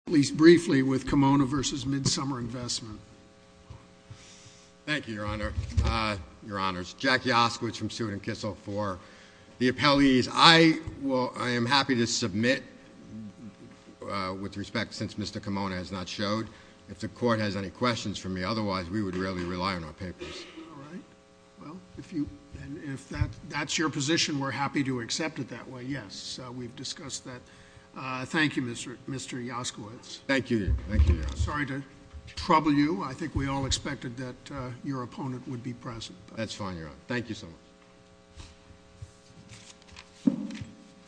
Thank you, Your Honor. Your Honors, Jack Yaskowitz from Suit & Kissel for the appellees. I am happy to submit with respect, since Mr. Kammona has not showed. If the Court has any questions for me, otherwise we would really rely on our papers. All right. Well, if that's your position, we're happy to accept it that way, yes. We've Thank you, Your Honor. I'm sorry to trouble you. I think we all expected that your opponent would be present. That's fine, Your Honor. Thank you so much.